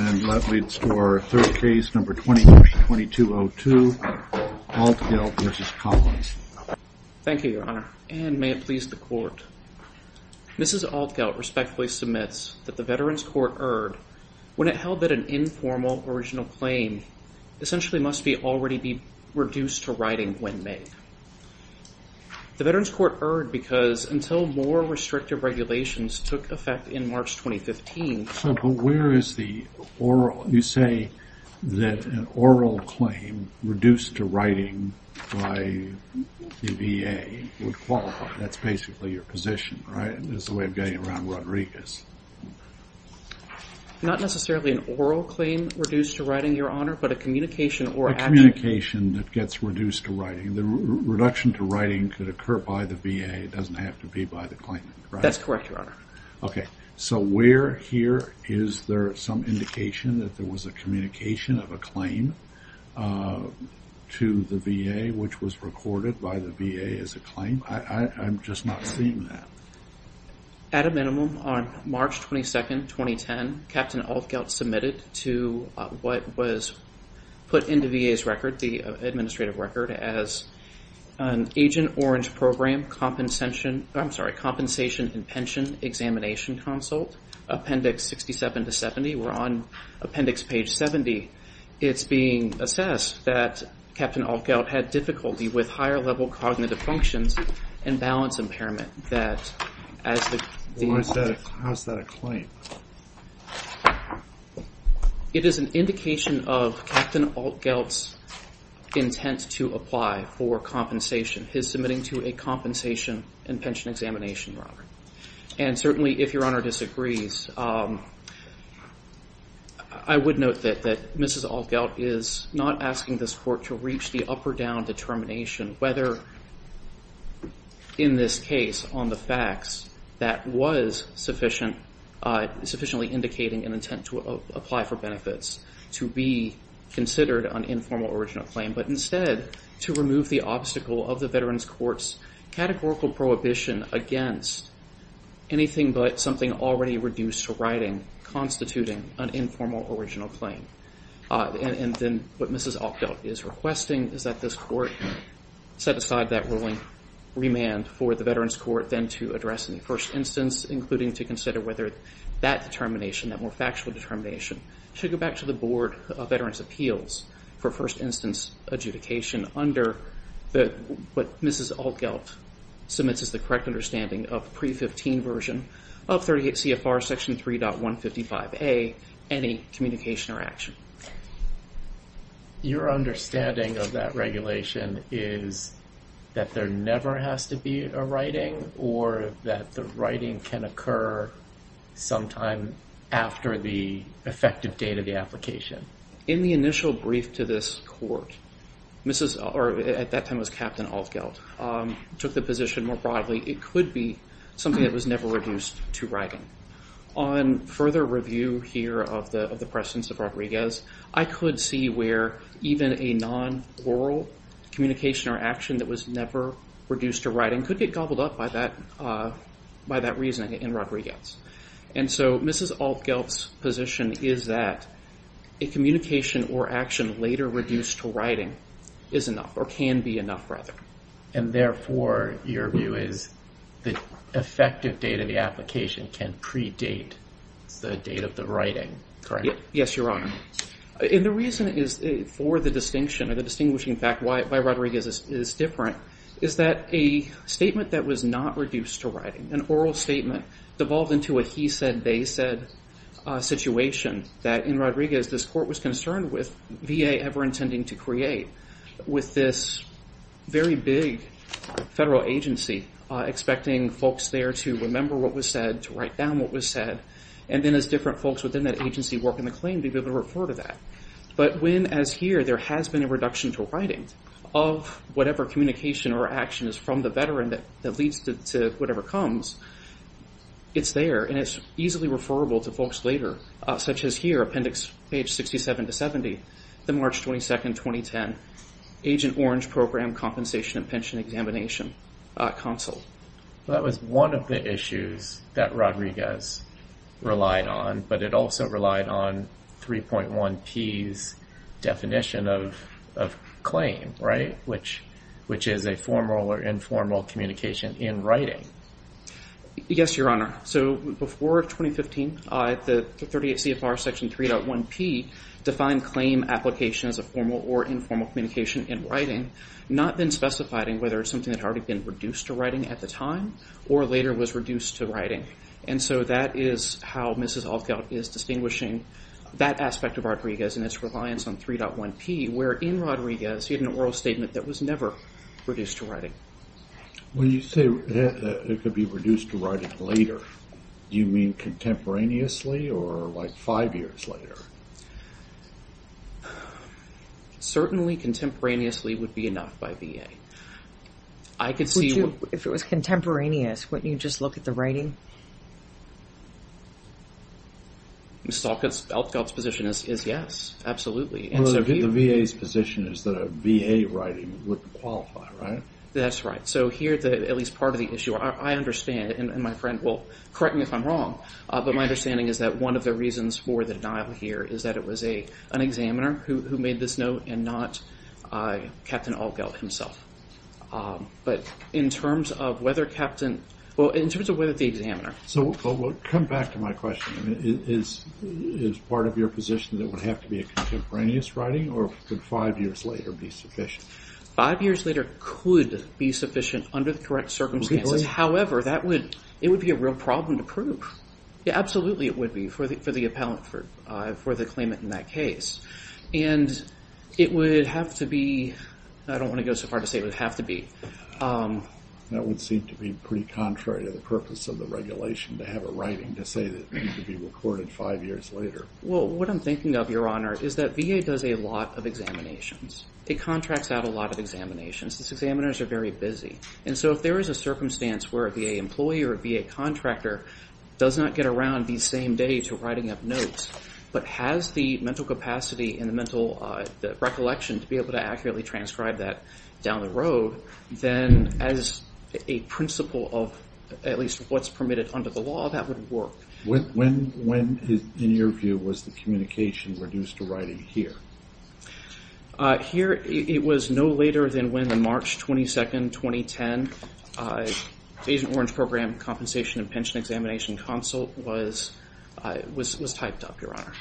Thank you your honor and may it please the court. Mrs. Altgelt respectfully submits that the Veterans Court erred when it held that an informal original claim essentially must be already be reduced to writing when made. The Veterans Court erred because until more restrictive regulations took effect in March 2015. So where is the oral you say that an oral claim reduced to writing by the VA would qualify that's basically your position right is the way of getting around Rodriguez. Not necessarily an oral claim reduced to writing your honor but a communication or communication that gets reduced to writing the reduction to writing could occur by the VA it doesn't have to be by the claimant. That's correct your honor. Okay so where here is there some indication that there was a communication of a claim to the VA which was recorded by the VA as a claim. I'm just not seeing that. At a minimum on March 22nd 2010 Captain Altgelt submitted to what was put into VA's record the administrative record as an agent orange program compensation I'm sorry compensation and pension examination consult appendix 67 to 70 we're on appendix page 70 it's being assessed that Captain Altgelt had difficulty with higher-level cognitive functions and balance impairment. How is that a claim? It is an indication of Captain Altgelt's intent to apply for compensation his submitting to a compensation and pension examination Robert and certainly if your honor disagrees I would note that that mrs. Altgelt is not asking this court to reach the up or down determination whether in this case on the facts that was sufficient sufficiently indicating an intent to apply for benefits to be considered an informal original claim but instead to remove the obstacle of the veterans courts categorical prohibition against anything but something already reduced to writing constituting an informal original claim and then what mrs. Altgelt is requesting is that this court set aside that ruling remand for the veterans court then to address in the first instance including to consider whether that determination that more factual determination should go back to the Board of Veterans Appeals for first instance adjudication under the what mrs. Altgelt submits is the correct understanding of pre-15 version of 38 CFR section 3.155 a any communication or action. Your understanding of that regulation is that there never has to be a writing or that the writing can occur sometime after the effective date of the application. In the initial brief to this court mrs. or at that time was Captain Altgelt took the position more broadly it could be something that was never reduced to writing. On further review here of the of the presence of Rodriguez I could see where even a non oral communication or action that was never reduced to writing could get gobbled up by that by that reason in Rodriguez. And so mrs. Altgelt's position is that a communication or action later reduced to writing is enough or can be enough rather. And therefore your view is the effective date of the application can predate the date of the writing correct? Yes your honor. And the reason is for the distinction of the distinguishing fact why Rodriguez is different is that a statement that was not reduced to writing an oral statement devolved into a he said they said situation that in Rodriguez this court was concerned with VA ever intending to create with this very big federal agency expecting folks there to remember what was said to write down what was said and then as different folks within that agency work in the claim to be able to refer to that. But when as here there has been a reduction to writing of whatever communication or action is from the veteran that that leads to whatever comes it's there and it's easily referable to folks later such as here appendix page 67 to 70 the March 22nd 2010 agent orange program compensation and pension examination console. That was one of the issues that Rodriguez relied on but it also relied on 3.1 P's definition of claim right? Which which is a formal or informal communication in writing. Yes your honor so before 2015 the 38 CFR section 3.1 P defined claim application as a formal or informal communication in writing not been specified in whether it's something that already been reduced to writing at the time or later was reduced to writing and so that is how Mrs. Altgeld is distinguishing that aspect of Rodriguez and its reliance on 3.1 P where in Rodriguez he had an oral statement that was never reduced to writing. When you say it could be reduced to writing later do you mean contemporaneously or like five years later? Certainly contemporaneously would be enough by VA. I could see if it was contemporaneous wouldn't you just look at the writing? Mrs. Altgeld's position is yes absolutely. The VA's position is that a VA writing would qualify right? That's right so here that at least part of the issue I understand and my friend will correct me if I'm wrong but my understanding is that one of the reasons for the denial here is that it was a an examiner who made this note and not Captain Altgeld himself but in terms of whether captain well in terms of whether the examiner. So come back to my question is is part of your position that would have to be a contemporaneous writing or could five years later be sufficient? Five years later could be sufficient under the correct circumstances however that would it would be a real problem to prove. Absolutely it would be for the for the appellant for for the claimant in that case and it would have to be I don't want to go so far to say it would have to be. That would seem to be pretty contrary to the purpose of the regulation to have a writing to say that it could be recorded five years later. Well what I'm thinking of your honor is that VA does a lot of examinations. It contracts out a lot of examinations. These examiners are very busy and so if there is a circumstance where a VA employee or a VA contractor does not get around these same days for writing up notes but has the mental capacity in the mental recollection to be able to accurately transcribe that down the road then as a principle of at least what's permitted under the law that would work. When in your view was the communication reduced to writing here? Here it was no later than when the March 22nd 2010 Agent Orange Program Compensation and Pension Examination Consult was typed up your honor.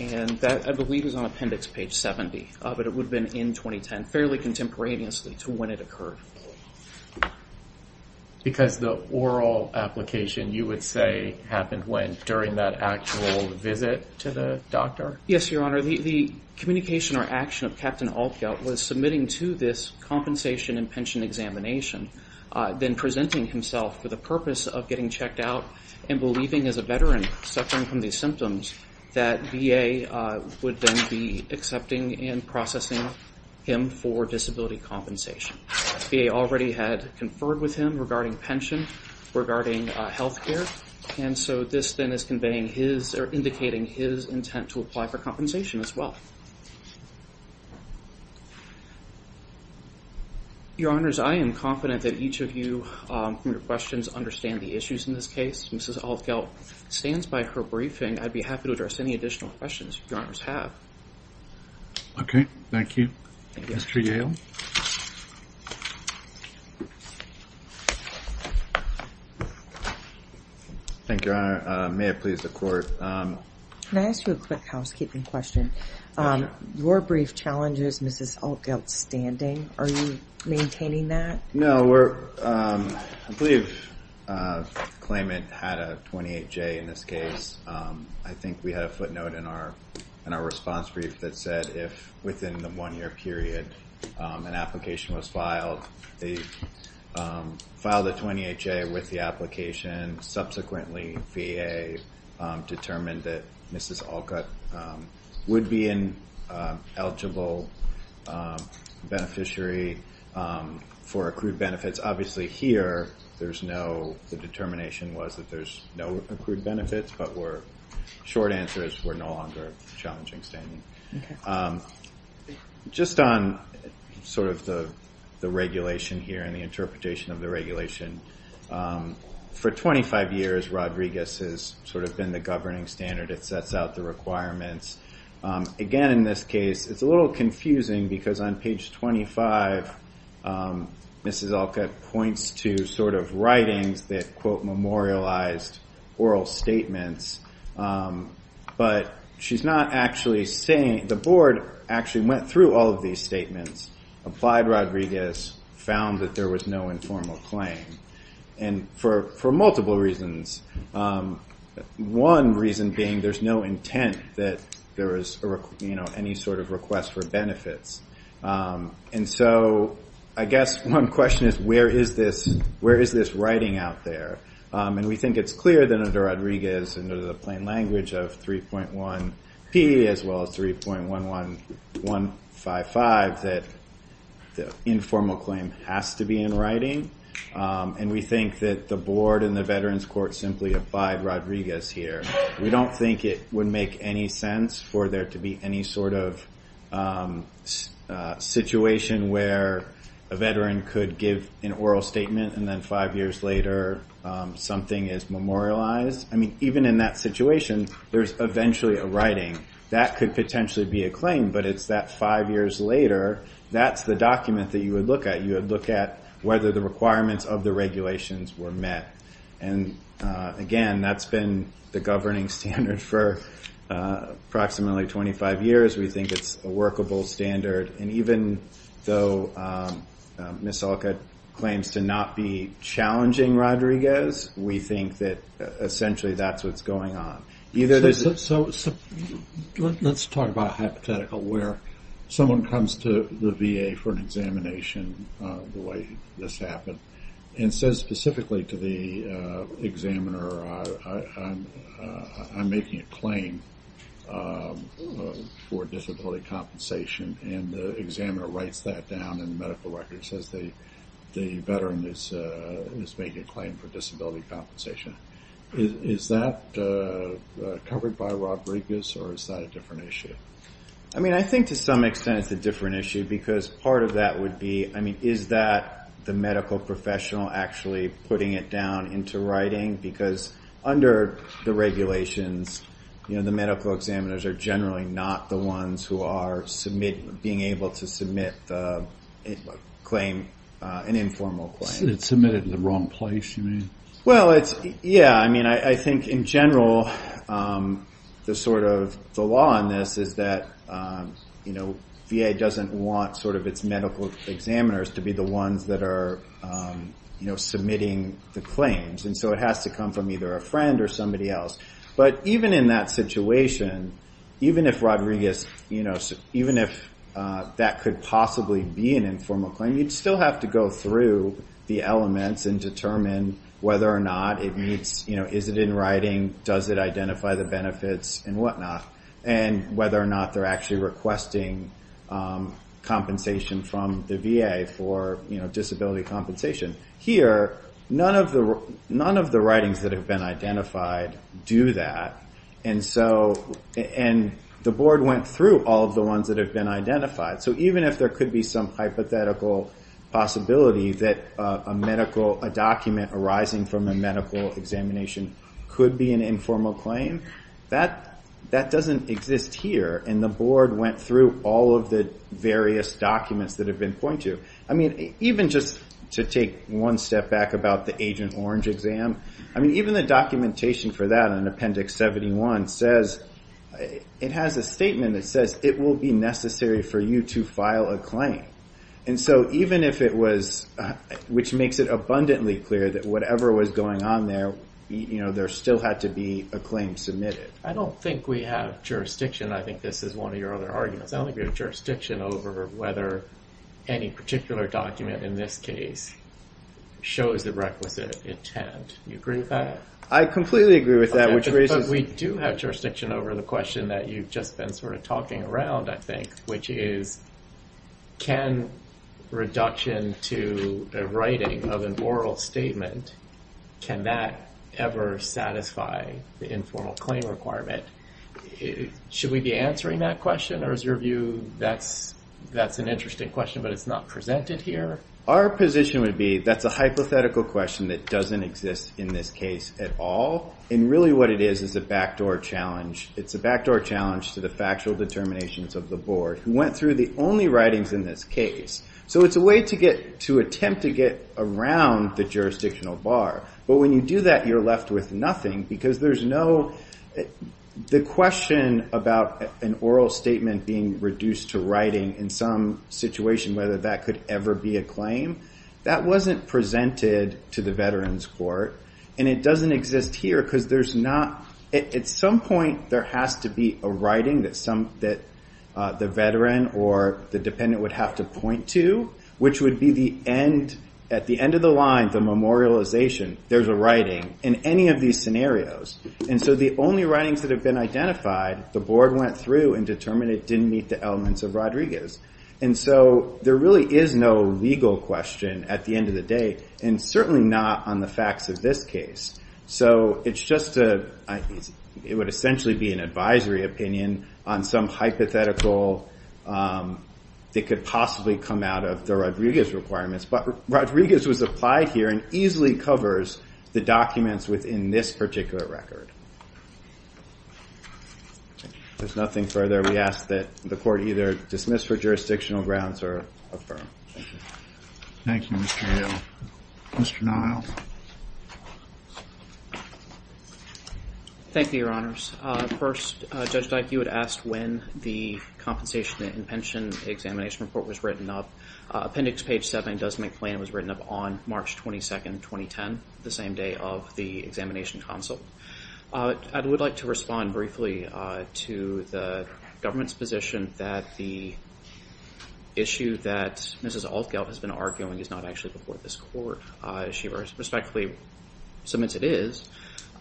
And that I believe is on appendix page 70 but it would have been in 2010 fairly contemporaneously to when it occurred. Because the oral application you would say happened when during that actual visit to the doctor? Yes your honor the communication or action of Captain Altgeld was submitting to this compensation and pension examination then presenting himself for the purpose of getting checked out and believing as a veteran suffering from these symptoms that VA would then be accepting and processing him for disability compensation. VA already had conferred with him regarding pension regarding health care and so this then is conveying his or indicating his intent to apply for compensation as well. Your honors I am confident that each of you your questions understand the issues in this case. Mrs. Altgeld stands by her briefing I'd be happy to address any additional questions your honors have. Okay thank you. Mr. Yale. Thank you your honor. May it please the court. Can I ask you a quick housekeeping question? Your brief challenges Mrs. Altgeld standing are you maintaining that? No we're I believe claimant had a 28 J in this case. I think we have footnote in our in our response brief that said if within the one-year period an application was filed they filed a 28 J with the application subsequently VA determined that Mrs. Altgeld would be an eligible beneficiary for accrued benefits. Obviously here there's no the determination was that there's no accrued benefits but we're short answer we're no longer challenging standing. Just on sort of the the regulation here and the interpretation of the regulation for 25 years Rodriguez's sort of been the governing standard it sets out the requirements. Again in this case it's a little confusing because on page 25 Mrs. Altgeld points to sort of writings that quote memorialized oral statements but she's not actually saying the board actually went through all of these statements applied Rodriguez found that there was no informal claim and for for multiple reasons. One reason being there's no intent that there is you know sort of request for benefits and so I guess one question is where is this where is this writing out there and we think it's clear that under Rodriguez under the plain language of 3.1 P as well as 3.1 1 1 5 5 that the informal claim has to be in writing and we think that the board and the veterans court simply applied Rodriguez here. We don't think it would make any sense for there to be any sort of situation where a veteran could give an oral statement and then five years later something is memorialized. I mean even in that situation there's eventually a writing that could potentially be a claim but it's that five years later that's the document that you would look at you would look at whether the requirements of the regulations were met and again that's been the governing standard for approximately 25 years we think it's a workable standard and even though Ms. Olcott claims to not be challenging Rodriguez we think that essentially that's what's going on either this is so let's talk about hypothetical where someone comes to the VA for an I'm making a claim for disability compensation and the examiner writes that down in medical records as the veteran is making a claim for disability compensation. Is that covered by Rodriguez or is that a different issue? I mean I think to some extent it's a different issue because part of that would be I mean is that the medical professional actually putting it down into writing because under the regulations you know the medical examiners are generally not the ones who are submit being able to submit a claim an informal claim. It's submitted in the wrong place you mean? Well it's yeah I mean I think in general the sort of the law on this is that you know VA doesn't want sort of its medical examiners to be the ones that are you know submitting the claims and so it has to come from either a friend or somebody else but even in that situation even if Rodriguez you know even if that could possibly be an informal claim you'd still have to go through the elements and determine whether or not it needs you know is it in writing does it identify the benefits and whatnot and whether or not they're actually requesting compensation from the VA for you know disability compensation. Here none of the none of the writings that have been identified do that and so and the board went through all the ones that have been identified so even if there could be some hypothetical possibility that a medical a document arising from a medical examination could be an informal claim that that doesn't exist here and the board went through all of the various documents that have been I mean even just to take one step back about the Agent Orange exam I mean even the documentation for that in Appendix 71 says it has a statement that says it will be necessary for you to file a claim and so even if it was which makes it abundantly clear that whatever was going on there you know there still had to be a claim submitted. I don't think we have jurisdiction I think this is one of our arguments. I don't think we have jurisdiction over whether any particular document in this case shows the requisite intent. You agree with that? I completely agree with that which raises. We do have jurisdiction over the question that you've just been sort of talking around I think which is can reduction to a writing of an oral statement can that ever satisfy the informal claim requirement? Should we be answering that question or is your view that's that's an interesting question but it's not presented here? Our position would be that's a hypothetical question that doesn't exist in this case at all and really what it is is a backdoor challenge it's a backdoor challenge to the factual determinations of the board who went through the only writings in this case so it's a way to get to attempt to get around the jurisdictional bar but when you do that you're left with nothing because there's no the question about an oral statement being reduced to writing in some situation whether that could ever be a claim that wasn't presented to the Veterans Court and it doesn't exist here because there's not at some point there has to be a writing that some that the veteran or the dependent would have to point to which would be the end at the end of the line the memorialization there's a writing in any of these scenarios and so the only writings that have been identified the board went through and determined it didn't meet the elements of Rodriguez and so there really is no legal question at the end of the day and certainly not on the facts of this case so it's just a it would essentially be an advisory opinion on some hypothetical that could possibly come out of the Rodriguez requirements but Rodriguez was applied here and easily covers the documents within this particular record there's nothing further we ask that the court either dismiss for jurisdictional grounds or thank you mr. Nile thank you your honors first judge like you had asked when the compensation and pension examination report was written up appendix page 7 does make plan was written up on March 22nd 2010 the same day of the examination console I would like to respond briefly to the government's that the issue that mrs. Altgeld has been arguing is not actually before this court she respectfully submits it is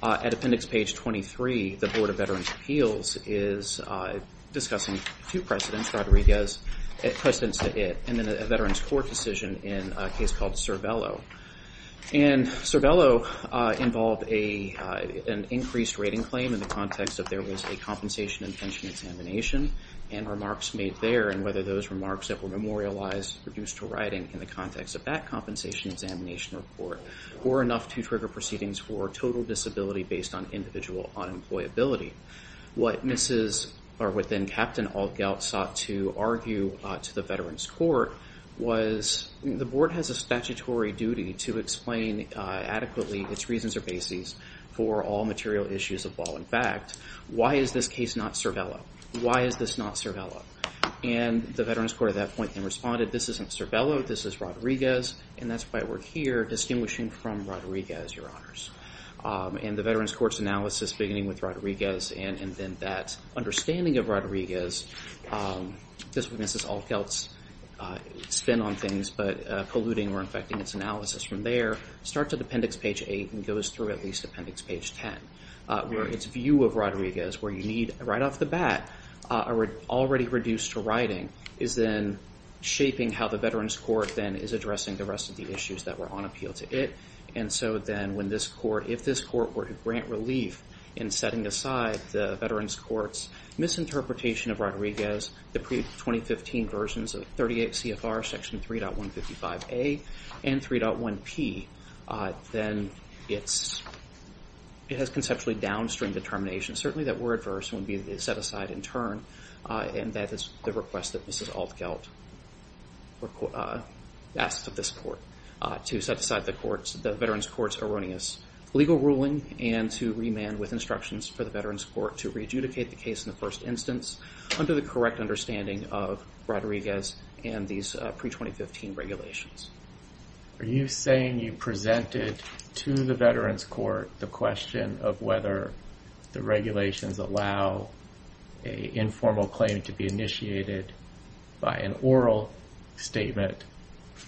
at appendix page 23 the Board of Veterans Appeals is discussing two precedents Rodriguez at precedents to it and then a veterans court decision in a case called Cervelo and Cervelo involved a an increased rating claim in the context of there was a compensation and pension examination and remarks made there and whether those remarks that were memorialized reduced to writing in the context of that compensation examination report or enough to trigger proceedings for total disability based on individual unemployability what mrs. are within Captain Altgeld sought to argue to the veterans court was the board has a statutory duty to explain adequately its reasons or bases for all material issues of law in fact why is this case not Cervelo why is this not Cervelo and the veterans court at that point and responded this isn't Cervelo this is Rodriguez and that's why we're here distinguishing from Rodriguez your honors and the veterans courts analysis beginning with Rodriguez and and then that understanding of Rodriguez this witnesses Altgeld's spin on things but polluting or infecting its analysis from there start to appendix page 8 and goes through at least appendix page 10 where its view of Rodriguez where you need right off the bat already reduced to writing is then shaping how the veterans court then is addressing the rest of the issues that were on appeal to it and so then when this court if this court were to grant relief in setting aside the veterans courts misinterpretation of Rodriguez the pre-2015 versions of 38 CFR section 3.155 a and 3.1 P then it's it has conceptually downstream determination certainly that were adverse would be the set-aside in turn and that is the request that Mrs. Altgeld asked of this court to set aside the courts the veterans courts erroneous legal ruling and to remand with instructions for the veterans court to re-adjudicate the case in the first instance under the correct understanding of Rodriguez and these pre-2015 regulations. Are you saying you presented to the veterans court the question of whether the regulations allow a informal claim to be initiated by an oral statement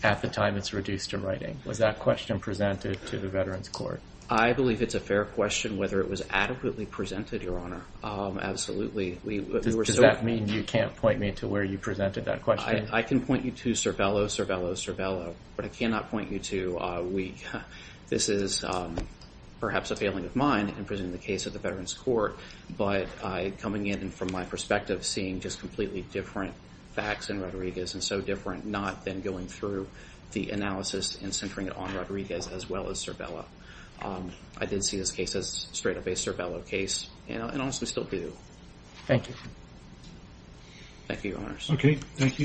at the time it's reduced to writing was that question presented to the veterans court? I believe it's a fair question whether it was adequately presented your honor absolutely we were does that mean you can't point me to where you presented that question? I can not point you to we this is perhaps a failing of mine in presenting the case of the veterans court but I coming in and from my perspective seeing just completely different facts and Rodriguez and so different not then going through the analysis and centering it on Rodriguez as well as Cervelo. I did see this case as straight-up a Cervelo case and honestly still do. Thank you. Thank